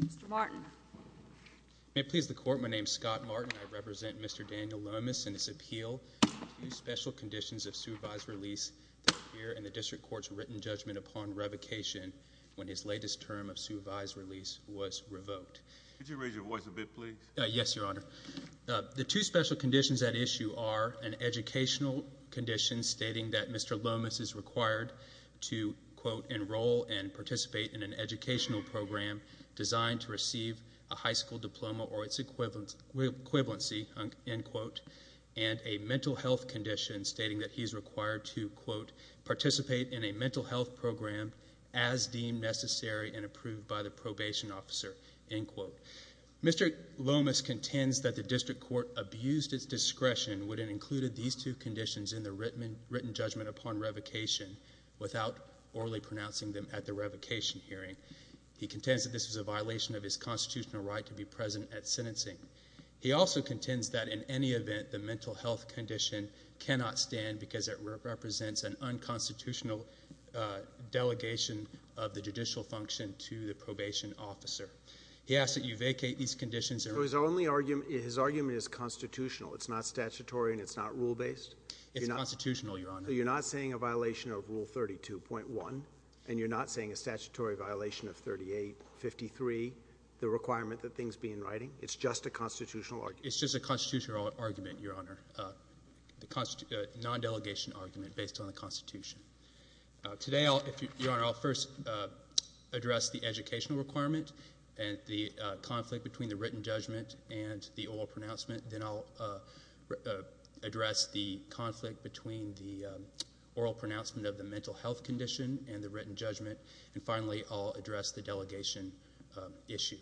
Mr. Martin. May it please the Court, my name is Scott Martin. I represent Mr. Daniel Lomas in his appeal to the two special conditions of supervised release that appear in the District Court's written judgment upon revocation when his latest term of supervised release was revoked. Could you raise your voice a bit, please? Yes, Your Honor. The two special conditions at issue are an educational condition stating that Mr. Lomas is required to, quote, enroll and participate in an educational program designed to receive a high school diploma or its equivalency, end quote, and a mental health condition stating that he is required to, quote, participate in a mental health program as deemed necessary and approved by the probation officer, end quote. Mr. Lomas contends that the District Court abused its discretion when it included these two conditions in the written judgment upon revocation without orally pronouncing them at the revocation hearing. He contends that this was a violation of his constitutional right to be present at sentencing. He also contends that in any event the mental health condition cannot stand because it represents an unconstitutional delegation of the judicial function to the probation officer. He asks that you vacate these conditions. So his argument is constitutional, it's not statutory and it's not rule-based? It's constitutional, Your Honor. So you're not saying a violation of Rule 32.1 and you're not saying a statutory violation of 38.53, the requirement that things be in writing? It's just a constitutional argument? It's just a constitutional argument, Your Honor. The non-delegation argument based on the Constitution. Today, Your Honor, I'll first address the educational requirement and the conflict between the written judgment and the oral pronouncement. Then I'll address the conflict between the oral pronouncement of the mental health condition and the written judgment. And finally, I'll address the delegation issue.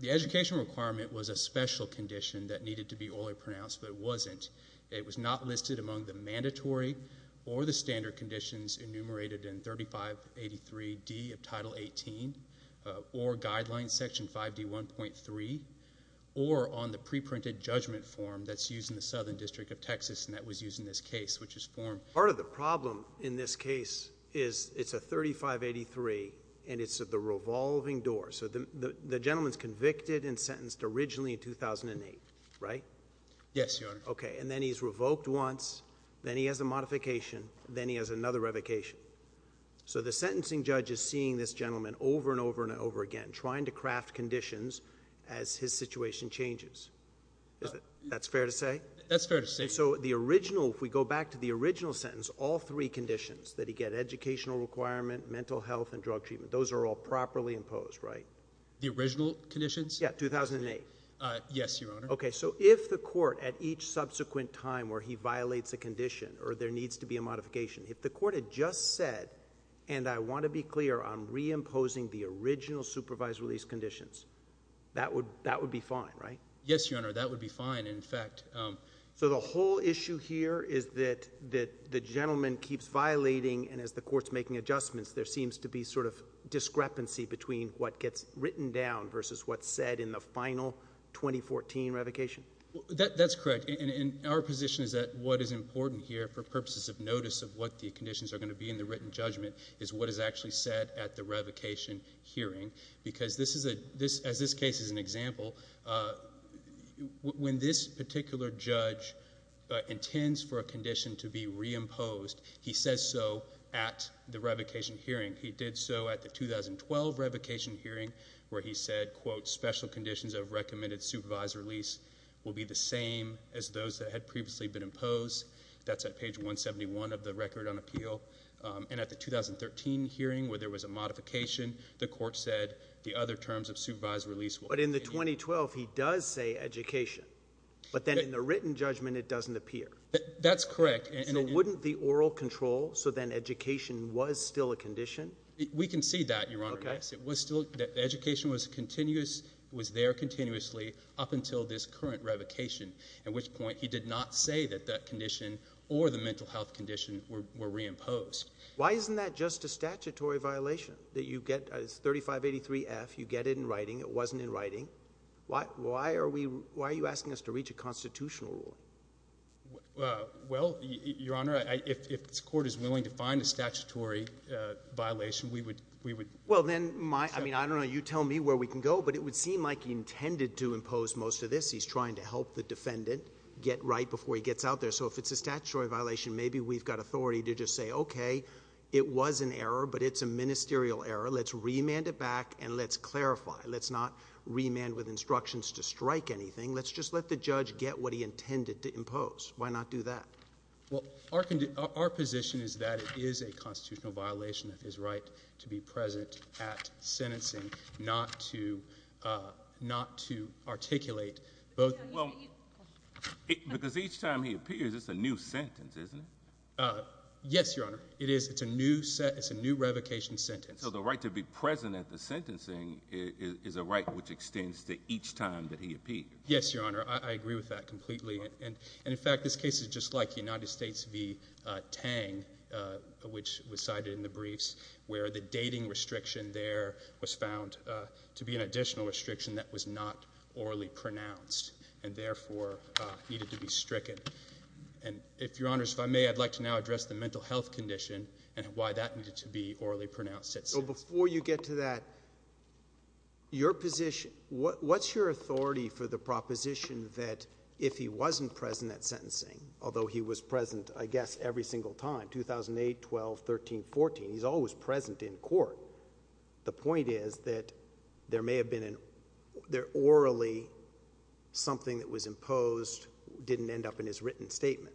The educational requirement was a special condition that needed to be orally pronounced, but it wasn't. It was not listed among the mandatory or the standard conditions enumerated in 3583D of the written judgment form that's used in the Southern District of Texas and that was used in this case, which is form. Part of the problem in this case is it's a 3583 and it's the revolving door. So the gentleman's convicted and sentenced originally in 2008, right? Yes, Your Honor. Okay, and then he's revoked once, then he has a modification, then he has another revocation. So the sentencing judge is seeing this gentleman over and over and over again, trying to craft conditions as his situation changes. That's fair to say? That's fair to say. So the original, if we go back to the original sentence, all three conditions that he get, educational requirement, mental health and drug treatment, those are all properly imposed, right? The original conditions? Yeah, 2008. Yes, Your Honor. Okay, so if the court at each subsequent time where he violates a condition or there needs to be a modification, if the court had just said, and I want to be clear, I'm reimposing the original supervised release conditions, that would be fine, right? Yes, Your Honor, that would be fine, in fact. So the whole issue here is that the gentleman keeps violating and as the court's making adjustments, there seems to be sort of discrepancy between what gets written down versus what's said in the final 2014 revocation? That's correct, and our position is that what is important here for purposes of notice of what the conditions are going to be in the written judgment is what is actually said at the revocation hearing because this is a, as this case is an example, when this particular judge intends for a condition to be reimposed, he says so at the revocation hearing. He did so at the 2012 revocation hearing where he said, quote, special conditions of recommended supervised release will be the same as those that had previously been imposed. That's at page 171 of the Record on Appeal, and at the 2013 hearing where there was a modification, the court said the other terms of supervised release will be the same. But in the 2012, he does say education, but then in the written judgment it doesn't appear. That's correct. So wouldn't the oral control, so then education was still a condition? We can see that, Your Honor, yes. It was still, education was continuous, was there continuously up until this current revocation, at which point he did not say that that condition or the mental health condition were reimposed. Why isn't that just a statutory violation that you get, it's 3583F, you get it in writing, it wasn't in writing? Why are we, why are you asking us to reach a constitutional rule? Well, Your Honor, if this court is willing to find a statutory violation, we would, we would. Well, then my, I mean, I don't know, you tell me where we can go, but it would seem like he intended to impose most of this. He's trying to help the defendant get right before he gets out there. So if it's a statutory violation, maybe we've got authority to just say, okay, it was an error, but it's a ministerial error. Let's remand it back and let's clarify. Let's not remand with instructions to strike anything. Let's just let the judge get what he intended to impose. Why not do that? Well, our position is that it is a constitutional violation of his right to be present at sentencing, not to, uh, not to articulate both. Well, because each time he appears, it's a new sentence, isn't it? Uh, yes, Your Honor. It is. It's a new set. It's a new revocation sentence. So the right to be present at the sentencing is a right which extends to each time that he appeared. Yes, Your Honor. I agree with that completely. And in fact, this case is just like the United States v. Tang, uh, which was cited in the briefs where the dating restriction there was found, uh, to be an additional restriction that was not orally pronounced and therefore, uh, needed to be stricken. And if Your Honor, if I may, I'd like to now address the mental health condition and why that needed to be orally pronounced. So before you get to that, your position, what, what's your authority for the proposition that if he wasn't present at sentencing, although he was present, I believe, in 1314, he's always present in court. The point is that there may have been an, there orally something that was imposed didn't end up in his written statement.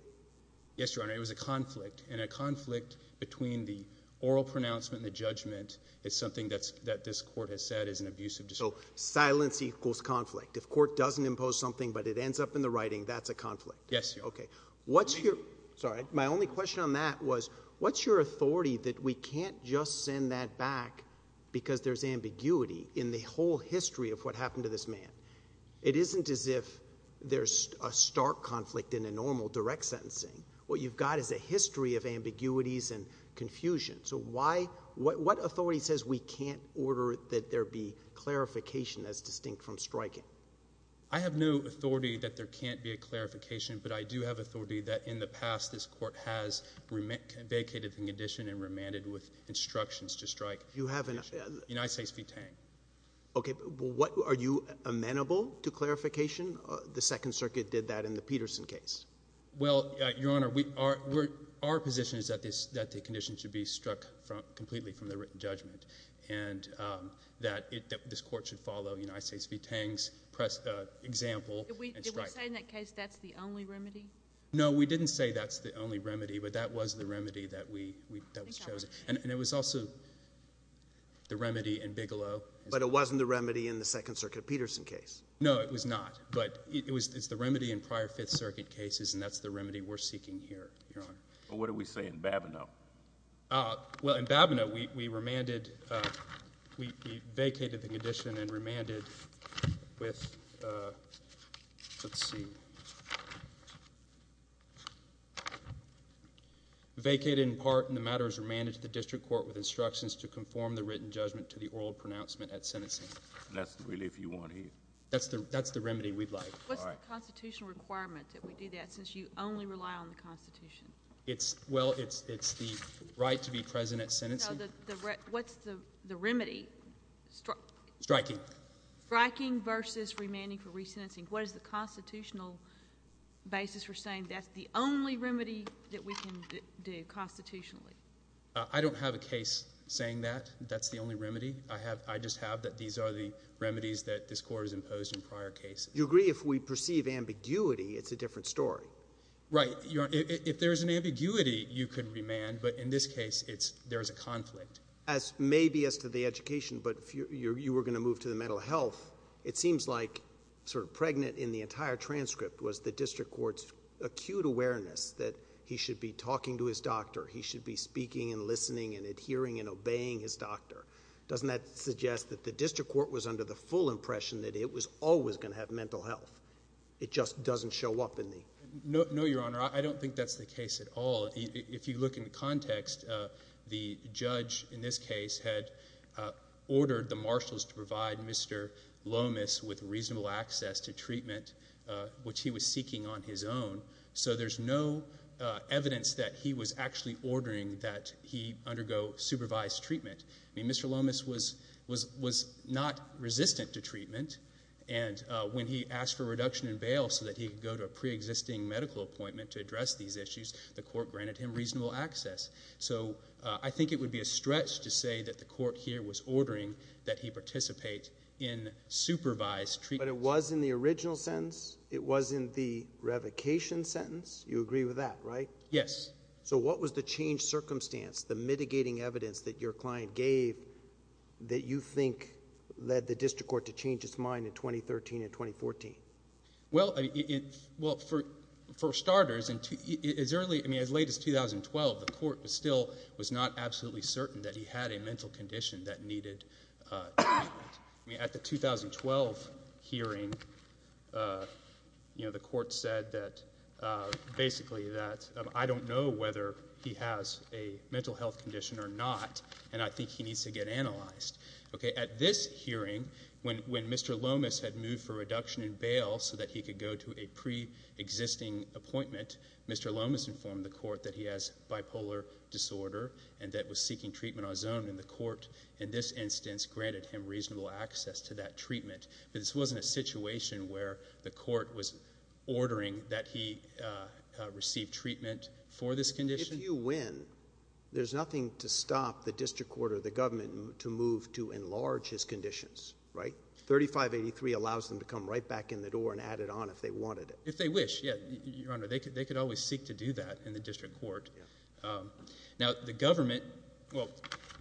Yes, Your Honor. It was a conflict and a conflict between the oral pronouncement and the judgment is something that's, that this court has said is an abusive. So silence equals conflict. If court doesn't impose something but it ends up in the writing, that's a conflict. Yes, we can't just send that back because there's ambiguity in the whole history of what happened to this man. It isn't as if there's a stark conflict in a normal direct sentencing. What you've got is a history of ambiguities and confusion. So why, what, what authority says we can't order that there be clarification as distinct from striking? I have no authority that there can't be a clarification, but I do have authority that in the past this court has vacated the condition and remanded with instructions to strike United States v. Tang. Okay, but what, are you amenable to clarification? The Second Circuit did that in the Peterson case. Well, Your Honor, we are, we're, our position is that this, that the condition should be struck from completely from the written judgment and that it, that this court should follow United States v. Tang's example and strike. Did we say in that case that's the only remedy? No, we didn't say that's the only remedy, but that was the remedy that we, we, that was chosen. And it was also the remedy in Bigelow. But it wasn't the remedy in the Second Circuit of Peterson case. No, it was not, but it was, it's the remedy in prior Fifth Circuit cases and that's the remedy we're seeking here, Your Honor. But what did we say in Babineau? Uh, well, in Babineau we, we remanded, uh, we, we vacated the condition and remanded with, uh, let's see, vacated in part, and the matter is remanded to the district court with instructions to conform the written judgment to the oral pronouncement at sentencing. And that's really if you want to hear. That's the, that's the remedy we'd like. All right. What's the constitutional requirement that we do that since you only rely on the Constitution? It's, well, it's, it's the right to be present at sentencing. So the, the, what's the, the remedy? Striking. Striking versus remanding for resentencing. What is the constitutional basis for saying that's the only remedy that we can do constitutionally? I don't have a case saying that. That's the only remedy. I have, I just have that these are the remedies that this Court has imposed in prior cases. You agree if we perceive ambiguity, it's a different story. Right. Your Honor, if, if there's an ambiguity, you could remand, but in this case, it's, there's a conflict. As maybe as to the education, but if you're, you were going to move to the mental health, it seems like sort of pregnant in the entire transcript was the district court's acute awareness that he should be talking to his doctor. He should be speaking and listening and adhering and obeying his doctor. Doesn't that suggest that the district court was under the full impression that it was always going to have mental health? It just doesn't show up in the. No, no, Your Honor. I don't think that's the case at all. If you look in the context, the judge in this case had ordered the marshals to provide Mr. Lomas with reasonable access to treatment, which he was seeking on his own. So there's no evidence that he was actually ordering that he undergo supervised treatment. I mean, Mr. Lomas was, was, was not resistant to treatment. And when he asked for a reduction in bail so that he could go to a preexisting medical appointment to address these issues, the court granted him reasonable access. So, uh, I think it would be a stretch to say that the court here was ordering that he participate in supervised treatment. But it was in the original sentence. It was in the revocation sentence. You agree with that, right? Yes. So what was the change circumstance, the mitigating evidence that your client gave that you think led the district court to change its mind in 2013 and 2014? Well, it, well, for, for starters, as early, I mean, as late as 2012, the court was still, was not absolutely certain that he had a mental condition that needed treatment. I mean, at the 2012 hearing, uh, you know, the court said that, uh, basically that, um, I don't know whether he has a mental health condition or not, and I think he needs to get analyzed. Okay. At this hearing, when, when Mr. Lomas had moved for reduction in bail so that he could go to a preexisting appointment, Mr. Lomas informed the court that he has bipolar disorder and that was seeking treatment on his own, and the court, in this instance, granted him reasonable access to that treatment. But this wasn't a situation where the court was ordering that he, uh, receive treatment for this condition. If you win, there's nothing to stop the district court or the government to move to enlarge his conditions, right? 3583 allows them to come right back in the door and add it on if they wanted it. If they wish, yeah, Your Honor, they could, they could always seek to do that in the district court. Um, now, the government, well,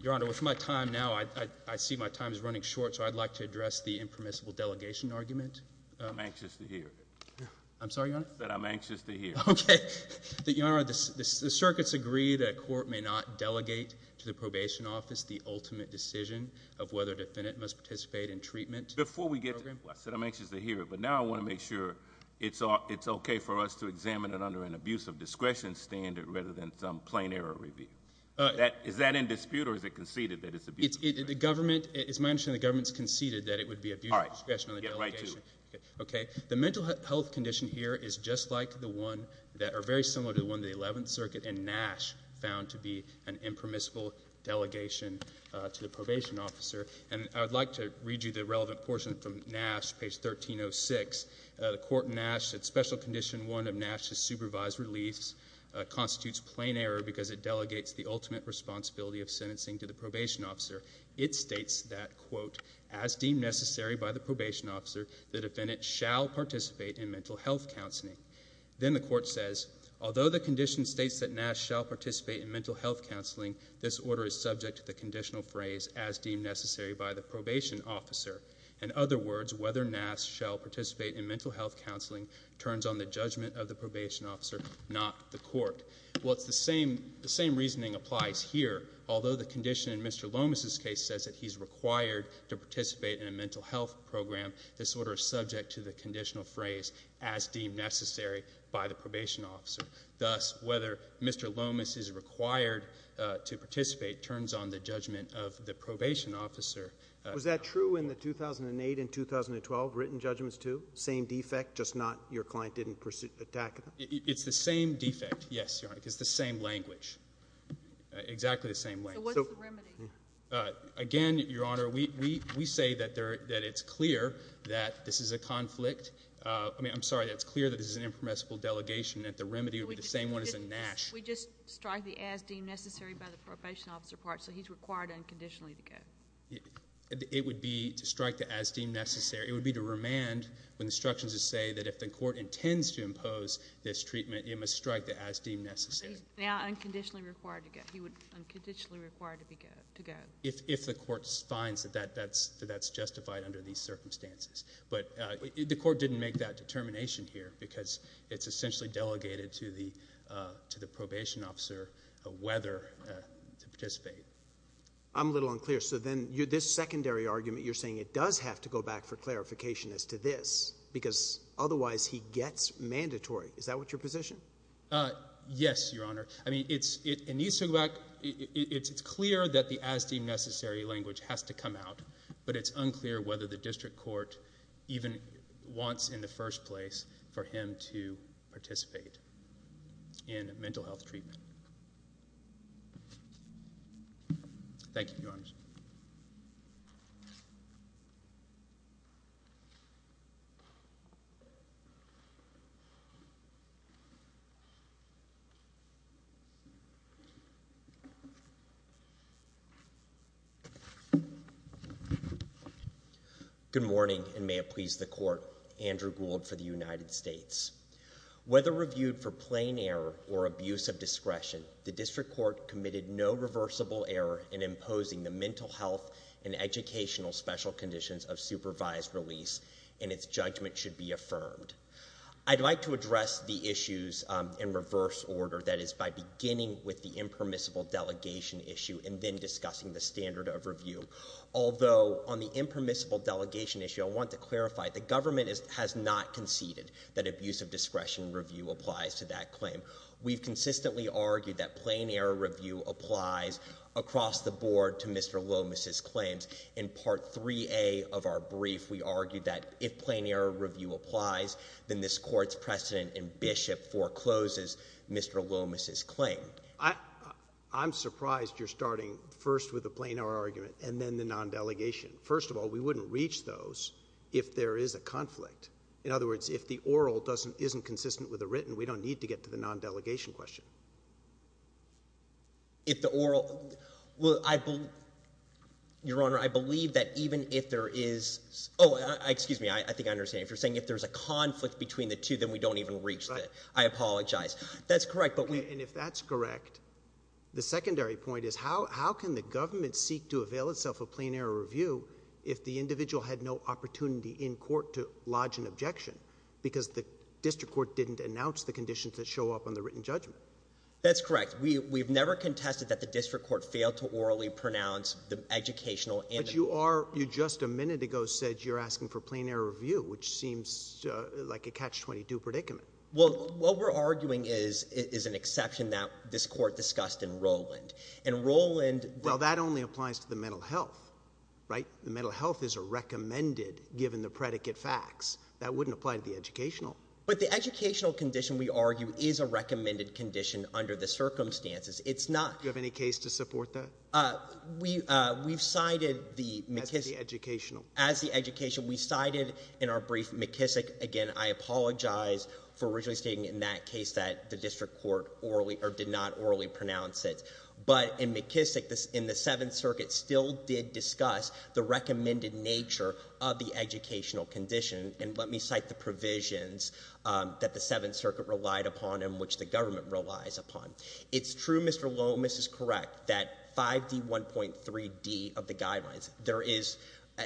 Your Honor, with my time now, I, I, I see my time is running short, so I'd like to address the impermissible delegation argument. I'm anxious to hear it. I'm sorry, Your Honor? That I'm anxious to hear it. Okay. The, Your Honor, the, the, the circuits agree that a court may not delegate to the probation office the ultimate decision of whether a defendant must participate in treatment. Before we get to it, I said I'm anxious to hear it, but now I want to make sure it's, it's okay for us to examine it under an abuse of discretion standard rather than some plain error review. Uh, that, is that in dispute or is it conceded that it's abuse of discretion? It's, it, the government, it's my understanding the government's conceded that it would be abuse of discretion on the delegation. Okay. The mental health condition here is just like the one that are very similar to the one in the Eleventh Circuit in Nash found to be an impermissible delegation, uh, to the probation officer. And I'd like to read you the relevant portion from Nash, page 1306. Uh, the court in Nash said special condition one of Nash's supervised release, uh, constitutes plain error because it delegates the ultimate responsibility of sentencing to the probation officer. It states that, quote, as deemed necessary by the probation officer, the defendant shall participate in mental health counseling. This order is subject to the conditional phrase, as deemed necessary by the probation officer. In other words, whether Nash shall participate in mental health counseling turns on the judgment of the probation officer, not the court. Well, it's the same, the same reasoning applies here. Although the condition in Mr. Lomas's case says that he's required to participate in a mental health program, this order is subject to the conditional phrase, as deemed necessary by the probation officer. Thus, whether Mr. Lomas is required, uh, to participate turns on the judgment of the probation officer. Uh, was that true in the 2008 and 2012 written judgments too? Same defect, just not your client didn't pursue attack? It's the same defect. Yes, Your Honor. It's the same language, exactly the same way. So what's the remedy? Uh, again, Your Honor, we, we, we say that there, that it's clear that this is a conflict. Uh, I mean, I'm sorry, that it's clear that this is an impermissible delegation, that the remedy would be the same one as a Nash. We just strike the as deemed necessary by the probation officer part, so he's required unconditionally to go. It would be to strike the as deemed necessary. It would be to remand when the instructions say that if the court intends to impose this treatment, it must strike the as deemed necessary. He's required to be, to go. If, if the court finds that that, that's, that's justified under these circumstances. But, uh, the court didn't make that determination here because it's essentially delegated to the, uh, to the probation officer, uh, whether, uh, to participate. I'm a little unclear. So then you, this secondary argument, you're saying it does have to go back for clarification as to this because otherwise he gets mandatory. Is that what your position? Uh, yes, Your Honor. I mean, it's, it, it needs to go back. It's, it's clear that the as deemed necessary language has to come out, but it's unclear whether the district court even wants in the first place for him to participate in mental health treatment. Thank you, Your Honors. Good morning and may it please the court. Andrew Gould for the United States. Whether reviewed for plain error or abuse of discretion, the district court committed no reversible error in imposing the mental health and educational special conditions of supervised release and its judgment should be affirmed. I'd like to address the issues, um, in reverse order. That is by beginning with the impermissible delegation issue and then discussing the standard of review. Although on the impermissible delegation issue, I want to clarify the government is, has not conceded that abuse of discretion review applies to that claim. We've consistently argued that plain error review applies across the board to Mr. Lomas's claims. In part three a of our brief, we argued that if plain error review applies, then this court's precedent in Bishop forecloses Mr. Lomas's claim. I, I'm surprised you're starting first with a plain error argument and then the non-delegation. First of all, we wouldn't reach those if there is a conflict. In other words, if the oral doesn't, isn't consistent with the written, we don't need to get to the non-delegation question. If the oral will, I believe your honor, I believe that even if there is, Oh, excuse me. I think I understand if you're saying if there's a conflict between the two, then we don't even reach that. I apologize. That's correct. But if that's correct, the secondary point is how, how can the government seek to avail itself of plain error review if the individual had no opportunity in court to lodge an objection because the district court didn't announce the conditions that show up on the written judgment. That's correct. We, we've never contested that the district court failed to orally pronounce the educational and you are, you just a minute ago said you're asking for plain error review, which seems like a catch 22 predicament. Well, what we're arguing is, is an exception that this court discussed in Roland and Roland. Well, that only applies to the mental health, right? The mental health is a recommended given the predicate facts that wouldn't apply to the educational, but the educational condition we argue is a recommended condition under the circumstances. It's not you have any case to support that. Uh, we, uh, we've cited the McKissick educational as the education we cited in our brief McKissick. Again, I apologize for originally stating in that case that the district court orally or did not orally pronounce it. But in McKissick, in the seventh circuit still did discuss the recommended nature of the educational condition. And let me cite the provisions, um, that the seventh circuit relied upon and which the government relies upon. It's true. Mr. Lomas is correct that 5d 1.3d of the guidelines, there is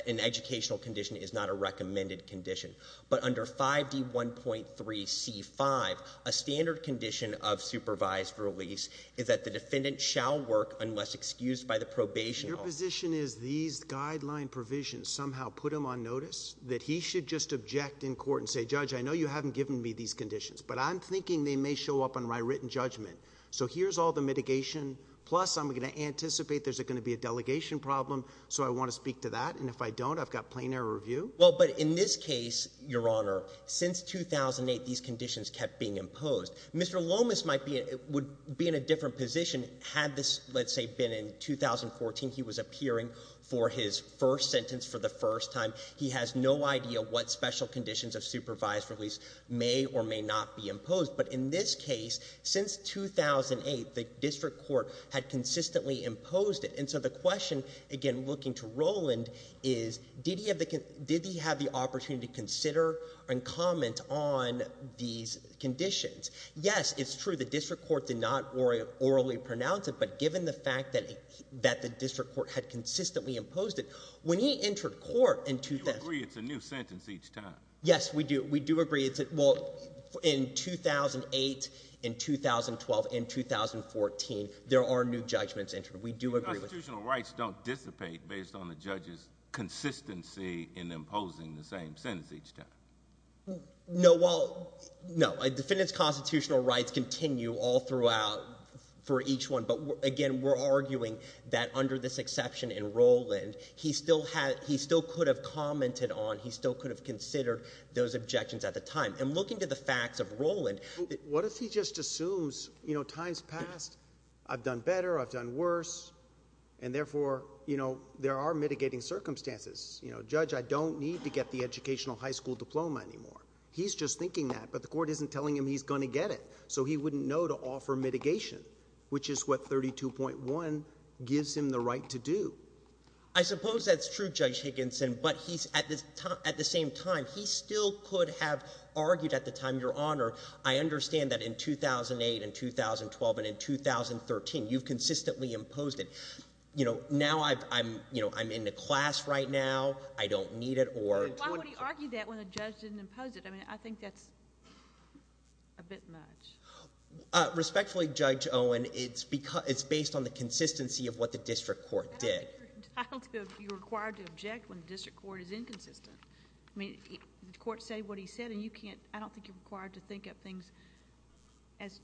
an educational condition is not a recommended condition, but under 5d 1.3c five, a standard condition of supervised release is that the defendant shall work unless excused by the probation. Your position is these guideline provisions somehow put them on notice that he should just object in court and say, judge, I know you haven't given me these conditions, but I'm thinking they may show up on my written judgment. So here's all the mitigation. Plus, I'm going to anticipate there's going to be a delegation problem. So I want to speak to that. And if I don't, I've got plain air review. Well, but in this case, your honor, since 2008, these conditions kept being imposed. Mr. Lomas might be, it would be in a different position had this, let's say, been in 2014. He was appearing for his first sentence for the first time. He has no idea what special conditions of supervised release may or may not be imposed. But in this case, since 2008, the district court had consistently imposed it. And so the question again, looking to Roland is, did he have the, did he have the opportunity to consider and comment on these conditions? Yes, it's true. The district court did not worry orally pronounce it, but given the fact that, that the district court had consistently imposed it when he entered court in 2003, it's a new sentence each time. Yes, we do. We do agree. It's, well, in 2008, in 2012, in 2014, there are new judgments entered. We do agree with that. Constitutional rights don't dissipate based on the judge's consistency in imposing the same sentence each time. No, well, no. A defendant's constitutional rights continue all throughout for each one. But again, we're arguing that under this exception in Roland, he still had, he still could have commented on, he still could have considered those objections at the time. And looking to the facts of Roland, what if he just assumes, you know, time's passed, I've done better, I've done worse, and therefore, you know, there are mitigating circumstances. You know, judge, I don't need to get the educational high school diploma anymore. He's just thinking that, but the court isn't telling him he's going to get it. So he wouldn't know to offer mitigation, which is what 32.1 gives him the right to do. I suppose that's true, Judge Higginson, but he's, at the same time, he still could have argued at the time, Your Honor, I understand that in 2008, in 2012, and in 2013, you've consistently imposed it. You know, now I'm, you know, I'm in the class right now. I don't need it, or... But why would he argue that when the judge didn't impose it? I mean, I think that's a bit much. Respectfully, Judge Owen, it's based on the court did. I don't think you're required to object when the district court is inconsistent. I mean, the court said what he said, and you can't, I don't think you're required to think of things, as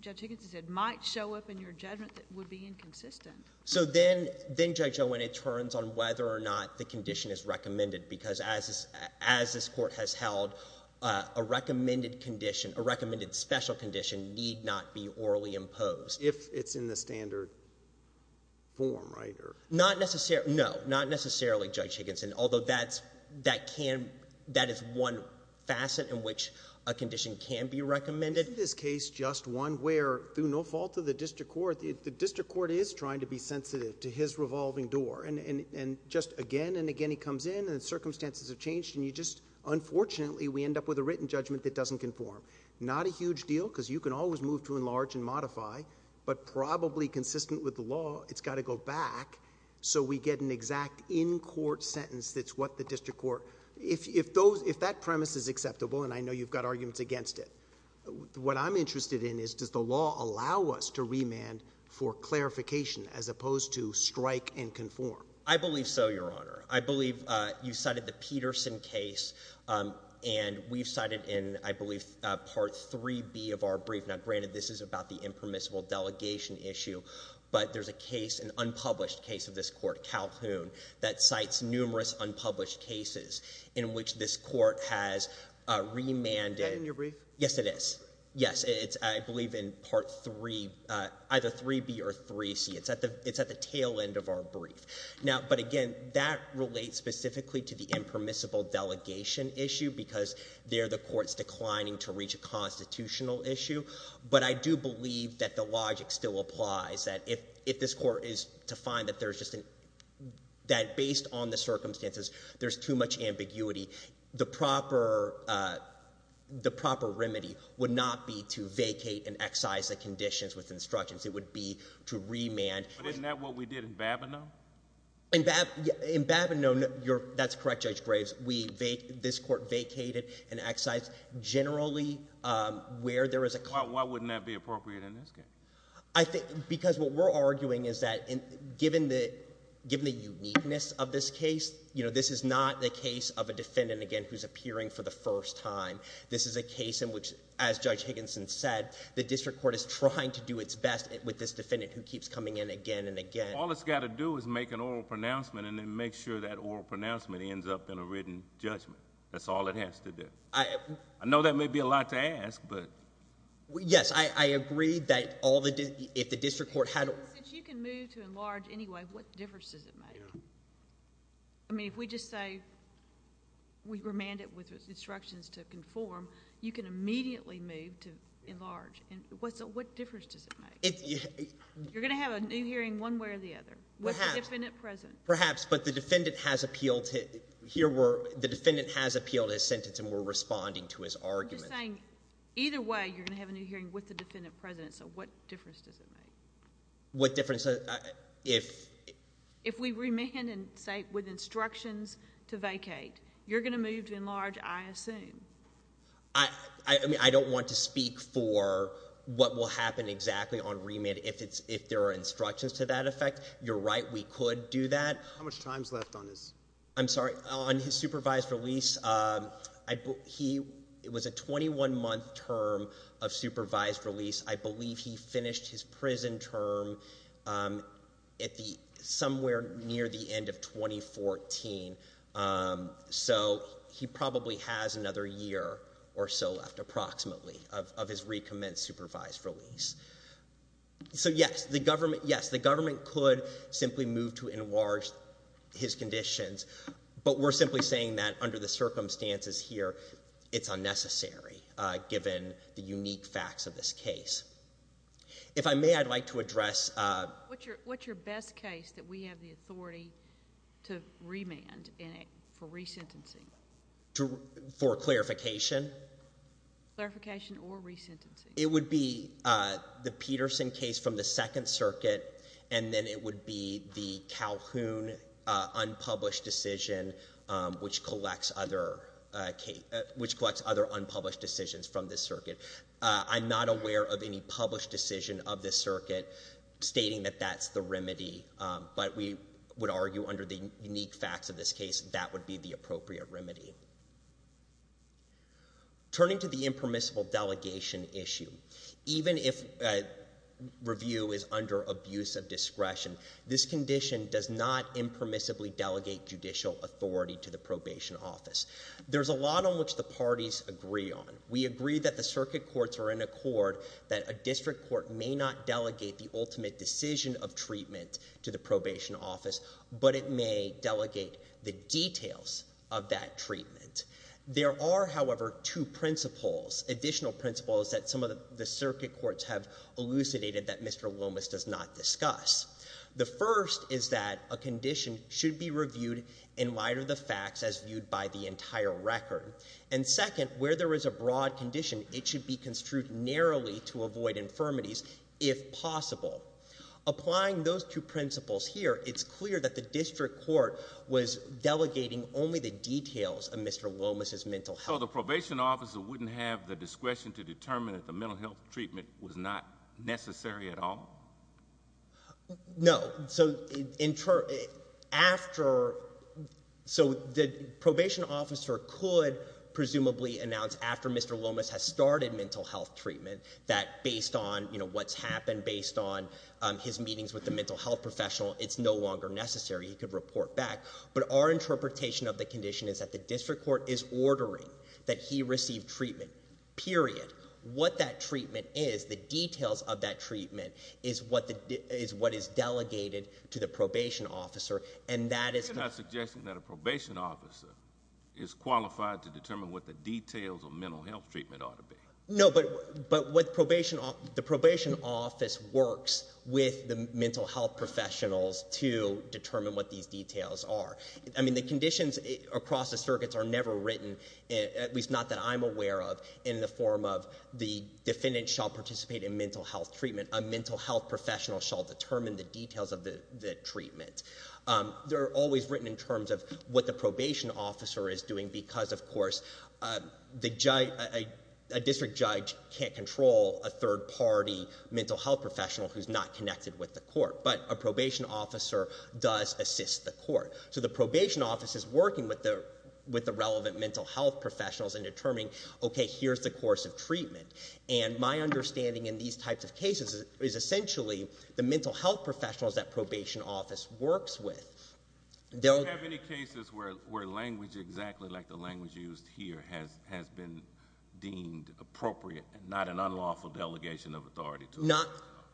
Judge Higginson said, might show up in your judgment that would be inconsistent. So then, then, Judge Owen, it turns on whether or not the condition is recommended, because as this, as this court has held, a recommended condition, a recommended special condition need not be orally imposed. If it's in the standard form, right? Not necessarily, no, not necessarily, Judge Higginson, although that's, that can, that is one facet in which a condition can be recommended. Isn't this case just one where, through no fault of the district court, the district court is trying to be sensitive to his revolving door, and, and, and just again and again he comes in, and the circumstances have changed, and you just, unfortunately, we end up with a written judgment that doesn't conform. Not a huge deal, because you can always move to but probably consistent with the law, it's got to go back, so we get an exact in-court sentence that's what the district court, if, if those, if that premise is acceptable, and I know you've got arguments against it, what I'm interested in is does the law allow us to remand for clarification as opposed to strike and conform? I believe so, Your Honor. I believe, uh, you cited the Peterson case, um, and we've cited it in, I believe, uh, Part 3B of our brief. Now, granted, this is about the impermissible delegation issue, but there's a case, an unpublished case of this court, Calhoun, that cites numerous unpublished cases in which this court has, uh, remanded. Is that in your brief? Yes, it is. Yes, it's, I believe, in Part 3, uh, either 3B or 3C. It's at the, it's at the tail end of our brief. Now, but again, that relates specifically to the impermissible delegation issue because there the court's declining to reach a constitutional issue, but I do believe that the logic still applies, that if, if this court is to find that there's just an, that based on the circumstances, there's too much ambiguity, the proper, uh, the proper remedy would not be to vacate and excise the conditions with instructions. It would be to remand. But isn't that what we did in Babineau? In Bab, in Babineau, you're, that's correct, Judge Graves. We vac, this court vacated and excised generally, um, where there is a... Why, why wouldn't that be appropriate in this case? I think, because what we're arguing is that in, given the, given the uniqueness of this case, you know, this is not the case of a defendant, again, who's appearing for the first time. This is a case in which, as Judge Higginson said, the district court is trying to do its best with this defendant who keeps coming in again and again. All it's got to do is make an oral pronouncement and then make sure that oral pronouncement ends up in a written judgment. That's all it has to do. I... I know that may be a lot to ask, but... Yes, I, I agree that all the, if the district court had... Since you can move to enlarge anyway, what difference does it make? Yeah. I mean, if we just say, we remand it with instructions to conform, you can immediately move to enlarge. And what's the, what difference does it make? It... You're going to have a new hearing one way or the other. Perhaps. With the defendant present. Perhaps, but the defendant has appealed to, here we're, the defendant has appealed his sentence and we're responding to his argument. I'm just saying, either way, you're going to have a new hearing with the defendant present, so what difference does it make? What difference, if... If we remand and say, with instructions to vacate, you're going to move to enlarge, I assume. I, I, I mean, I don't want to speak for what will happen exactly on remand if it's, if there are instructions to that effect. You're right, we could do that. How much time's left on his... I'm sorry, on his supervised release, I, he, it was a 21-month term of supervised release. I believe he finished his prison term at the, somewhere near the end of 2014. So, he probably has another year or so left, approximately, of, of his recommenced supervised release. So, yes, the government, yes, the government could simply move to enlarge his conditions, but we're simply saying that under the circumstances here, it's unnecessary, given the unique facts of this case. If I may, I'd like to address... What's your, what's your best case that we have the authority to remand in it for resentencing? To, for clarification? Clarification or resentencing? It would be the Peterson case from the Second Circuit, and then it would be the Calhoun unpublished decision, which collects other, which collects other unpublished decisions from this circuit. I'm not aware of any published decision of this circuit stating that that's the remedy, but we would argue under the unique facts of this case, that would be the appropriate remedy. Turning to the impermissible delegation issue, even if a review is under abuse of discretion, this condition does not impermissibly delegate judicial authority to the probation office. There's a lot on which the parties agree on. We agree that the circuit courts are in accord that a district court may not delegate the ultimate decision of treatment to the probation office, but it may delegate the details of that treatment. There are, however, two principles, additional principles that some of the circuit courts have elucidated that Mr. Lomas does not discuss. The first is that a condition should be reviewed in light of the facts as viewed by the entire record. And second, where there is a broad condition, it should be construed narrowly to avoid infirmities, if possible. Applying those two principles here, it's clear that the district court was delegating only the details of Mr. Lomas' mental health. So the probation officer wouldn't have the discretion to determine that the mental health treatment was not necessary at all? No. So after, so the probation officer could presumably announce after Mr. Lomas has started mental health treatment that based on, you know, what's happened, based on his meetings with the mental health professional, it's no longer necessary. He could report back. But our interpretation of the condition is that the district court is ordering that he receive treatment, period. What that treatment is, the details of that treatment, is what is delegated to the probation officer, and that is... You're not suggesting that a probation officer is qualified to determine what the details of mental health treatment ought to be? No, but what the probation office works with the mental health professionals to determine what these details are. I mean, the conditions across the circuits are never written, at least not that I'm aware of, in the form of the defendant shall participate in mental health treatment, a mental health professional shall determine the details of the treatment. They're always written in terms of what the probation officer is doing because, of course, a district judge can't control a third-party mental health professional who's not connected with the court, but a probation officer does assist the court. So the probation office is working with the relevant mental health professionals in determining, okay, here's the course of treatment. And my understanding in these types of cases is essentially the mental health professionals that probation office works with. Do you have any cases where language exactly like the language used here has been deemed appropriate and not an unlawful delegation of authority to...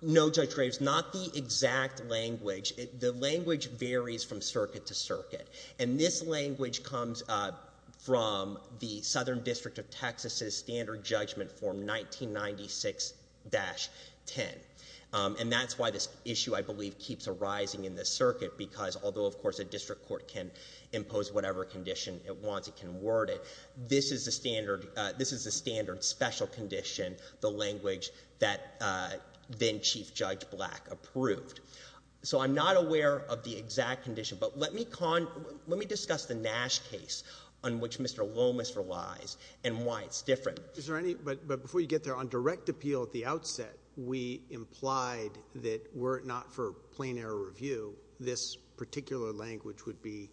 No, Judge Graves, not the exact language. The language varies from circuit to circuit. And this language comes from the Southern District of Texas's Standard Judgment Form 1996-10. And that's why this issue, I believe, keeps arising in this circuit because, although of course a district court can impose whatever condition it wants, it can word it, this is the standard special condition, the language that then-Chief Judge Black approved. So I'm not aware of the exact condition, but let me discuss the Nash case on which Mr. Lomas relies and why it's different. But before you get there, on direct appeal at the outset, we implied that were it not for plain error review, this particular language would be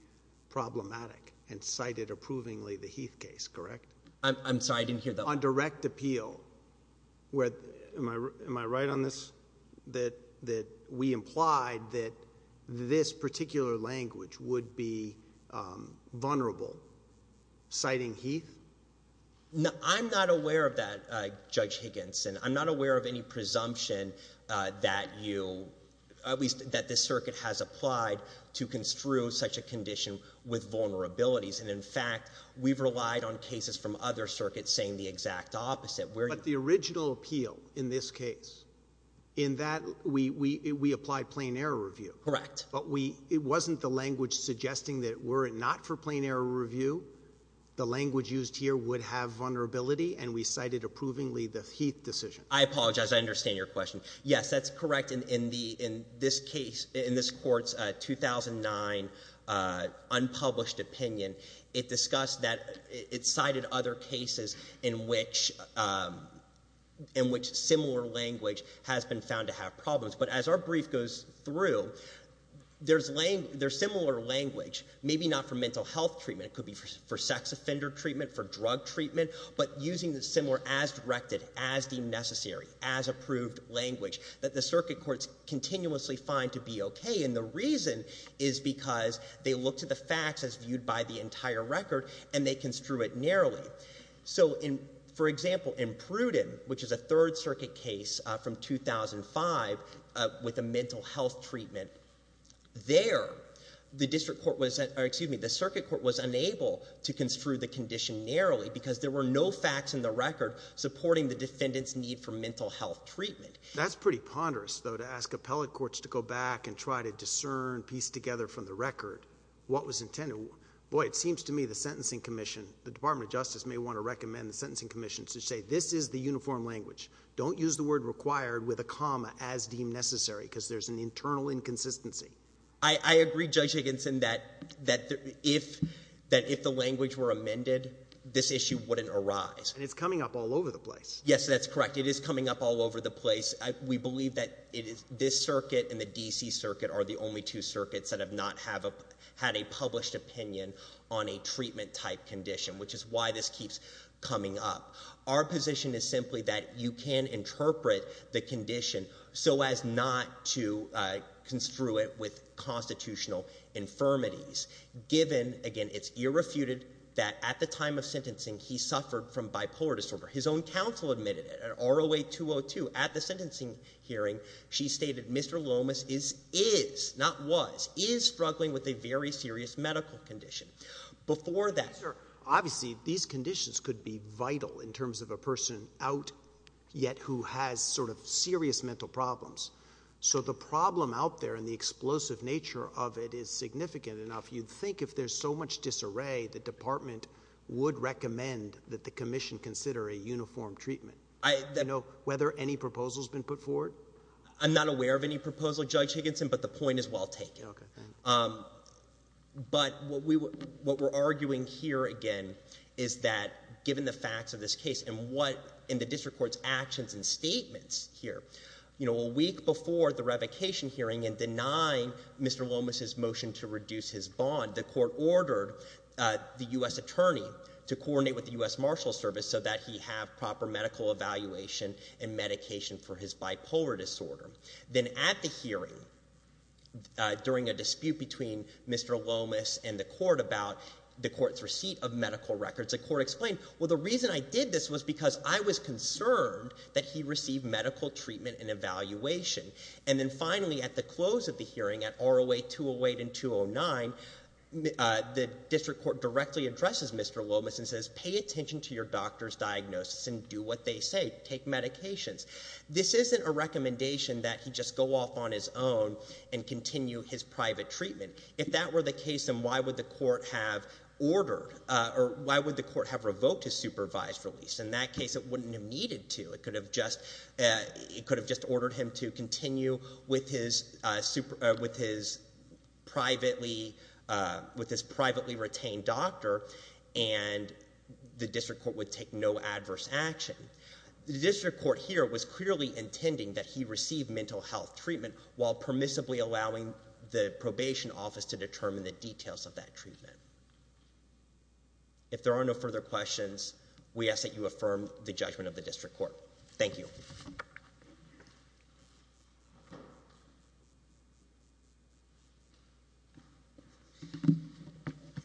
problematic and cited approvingly the Heath case, correct? I'm sorry, I didn't hear that. On direct appeal. Am I right on this? That we implied that this particular language would be vulnerable, citing Heath? No, I'm not aware of that, Judge Higginson. I'm not aware of any presumption that you, at least that this circuit has applied to construe such a condition with vulnerabilities. And in fact, we've relied on cases from other circuits saying the exact opposite. But the original appeal in this case, in that we applied plain error review. Correct. But we, it wasn't the language suggesting that were it not for plain error review, the language used here would have vulnerability and we cited approvingly the Heath decision. I apologize, I understand your question. Yes, that's correct. In the, in this case, in this court's 2009 unpublished opinion, it discussed that, it cited other cases in which, in which similar language has been found to have problems. But as our brief goes through, there's similar language, maybe not for mental health treatment, and it could be for sex offender treatment, for drug treatment, but using the similar as directed, as deemed necessary, as approved language that the circuit courts continuously find to be okay. And the reason is because they looked at the facts as viewed by the entire record and they construe it narrowly. So in, for example, in Pruden, which is a third circuit case from 2005 with a mental health treatment, there, the district court was, excuse me, the circuit court was unable to construe the condition narrowly because there were no facts in the record supporting the defendant's need for mental health treatment. That's pretty ponderous, though, to ask appellate courts to go back and try to discern, piece together from the record what was intended. Boy, it seems to me the Sentencing Commission, the Department of Justice may want to recommend the Sentencing Commission to say this is the uniform language. Don't use the word required with a comma as deemed necessary because there's an internal inconsistency. I agree, Judge Higginson, that if, that if the language were amended, this issue wouldn't arise. And it's coming up all over the place. Yes, that's correct. It is coming up all over the place. We believe that it is this circuit and the D.C. circuit are the only two circuits that have not had a published opinion on a treatment type condition, which is why this keeps coming up. Our position is simply that you can interpret the condition so as not to construe it with constitutional infirmities, given again it's irrefuted that at the time of sentencing he suffered from bipolar disorder. His own counsel admitted it at R08-202 at the sentencing hearing. She stated Mr. Lomas is, is, not was, is struggling with a very serious medical condition. Before that... Obviously these conditions could be vital in terms of a person out yet who has sort of serious mental problems. So the problem out there and the explosive nature of it is significant enough, you'd think if there's so much disarray, the department would recommend that the commission consider a uniform treatment. I know, whether any proposals been put forward? I'm not aware of any proposal, Judge Higginson, but the point is well taken. Um, but what we're arguing here again is that given the facts of this case and what in the district court's actions and statements here, you know, a week before the revocation hearing and denying Mr. Lomas' motion to reduce his bond, the court ordered the US attorney to coordinate with the US Marshal Service so that he have proper medical evaluation and medication for his bipolar disorder. Then at the hearing, uh, during a dispute between Mr. Lomas and the court about the court's receipt of medical records, the court explained, well, the reason I did this was because I was concerned that he received medical treatment and evaluation. And then finally, at the close of the hearing at ROA 208 and 209, uh, the district court directly addresses Mr. Lomas and says, pay attention to your doctor's diagnosis and do what they say, take medications. This isn't a recommendation that he just go off on his own and continue his private treatment. If that were the case, then why would the court have ordered, uh, or why would the court have revoked his supervised release? In that case, it wouldn't have needed to. It could have just, uh, it could have just ordered him to continue with his, uh, super, uh, with his privately, uh, with his privately retained doctor and the district court would take no adverse action. The district court here was clearly intending that he receive mental health treatment while permissibly allowing the probation office to determine the details of that treatment. If there are no further questions, we ask that you affirm the judgment of the district court. Thank you.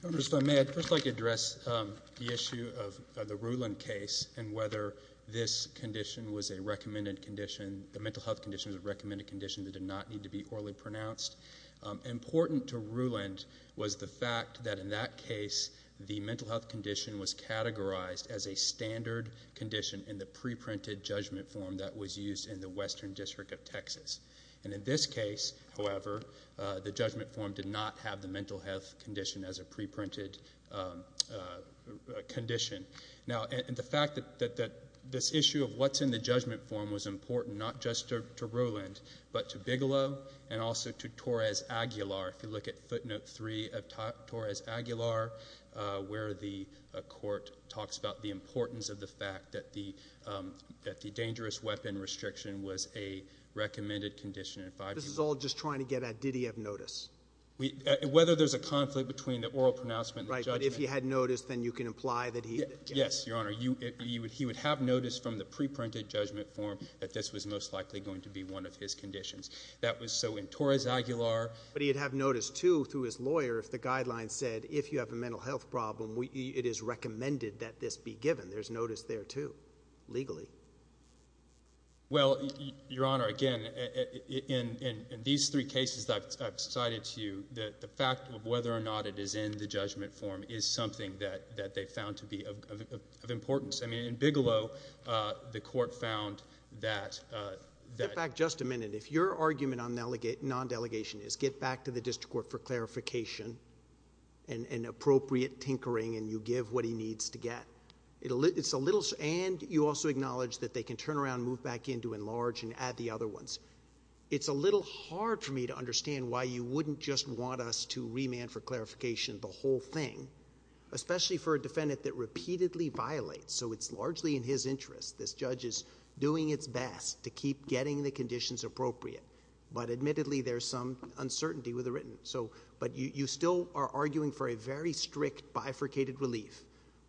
Mr. Stone, may I just like to address, um, the issue of, uh, the Ruland case and whether this condition was a recommended condition, the mental health condition was a recommended condition that did not need to be orally pronounced. Um, important to Ruland was the fact that in that case, the mental health condition was categorized as a standard condition in the pre-printed judgment form that was used in the Western District of Texas. And in this case, however, uh, the judgment form did not have the mental health condition as a pre-printed, um, uh, condition. Now, and the fact that, that, that this issue of what's in the judgment form was important, not just to Ruland, but to Bigelow and also to Torres Aguilar. If you look at footnote three of Torres Aguilar, uh, where the court talks about the importance of the fact that the, um, that the dangerous weapon restriction was a recommended condition in five years. This is all just trying to get a ditty of notice. We, uh, whether there's a conflict between the oral pronouncement. Right. But if he had noticed, then you can imply that he, yes, your honor, you, you would, he would have noticed from the pre-printed judgment form that this was most likely going to be one of his conditions that was so in Torres Aguilar. But he'd have noticed too, through his lawyer, if the guidelines said, if you have a mental health problem, we, it is recommended that this be given. There's notice there too, legally. Well, your honor, again, in, in, in these three cases that I've cited to you, that the fact of whether or not it is in the judgment form is something that, that they found to be of, of, of importance. I mean, in Bigelow, uh, the court found that, uh, that. Get back just a minute. If your argument on non-delegation is get back to the district court for clarification and, and appropriate tinkering and you give what he needs to get. It's a little, and you also acknowledge that they can turn around, move back in to enlarge and add the other ones. It's a little hard for me to understand why you wouldn't just want us to remand for clarification the whole thing, especially for a defendant that repeatedly violates. So it's largely in his interest. This judge is doing its best to keep getting the conditions appropriate, but admittedly there's some uncertainty with the written. So, but you, you still are arguing for a very strict bifurcated relief.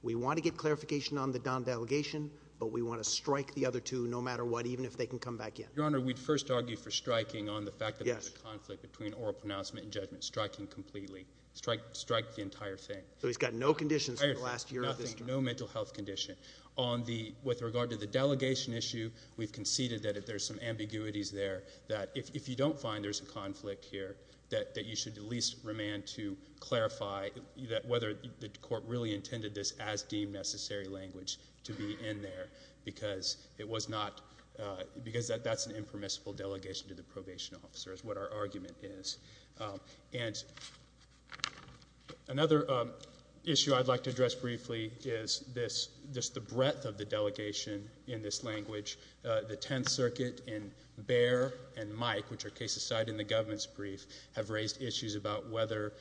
We want to get clarification on the Don delegation, but we want to strike the other two no matter what, even if they can come back in. Your honor, we'd first argue for striking on the fact that there's a conflict between oral pronouncement and judgment. Striking completely. Strike, strike the entire thing. So he's got no conditions for the last year of this. Nothing. No mental health condition. On the, with regard to the delegation issue, we've conceded that if there's some ambiguities there, that if, if you don't find there's a conflict here, that, that you should at least remand to clarify that whether the court really intended this as deemed necessary language to be in there because it was not, uh, because that, that's an impermissible delegation to the probation officer is what our argument is. Um, and another, um, issue I'd like to address briefly is this, this, the breadth of the delegation in this language, uh, the 10th circuit in bear and Mike, which are cases cited in the government's brief have raised issues about whether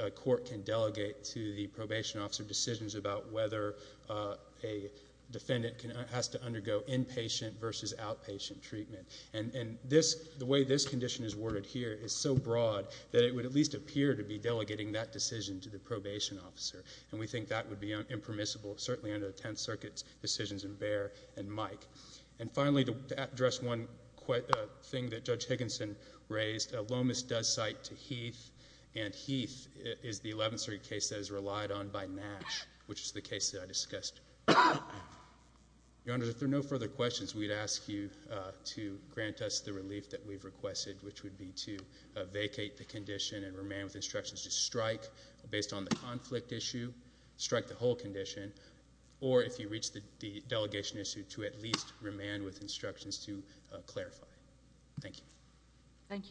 a court can delegate to the probation officer decisions about whether, uh, a defendant can, has to undergo inpatient versus outpatient treatment. And, and this, the way this condition is worded here is so broad that it would at least appear to be delegating that decision to the probation officer. And we think that would be impermissible certainly under the 10th circuits decisions in bear and Mike. And finally, to address one quick thing that Judge Higginson raised, uh, Lomas does cite to Heath and Heath is the 11th circuit case that is relied on by Nash, which is the case that I discussed. Your Honor, if there are no further questions, we'd ask you, uh, to grant us the relief that we've requested, which would be to vacate the condition and remain with instructions to strike based on the conflict issue, strike the whole condition, or if you reach the delegation issue to at least remain with instructions to clarify. Thank you. Thank you.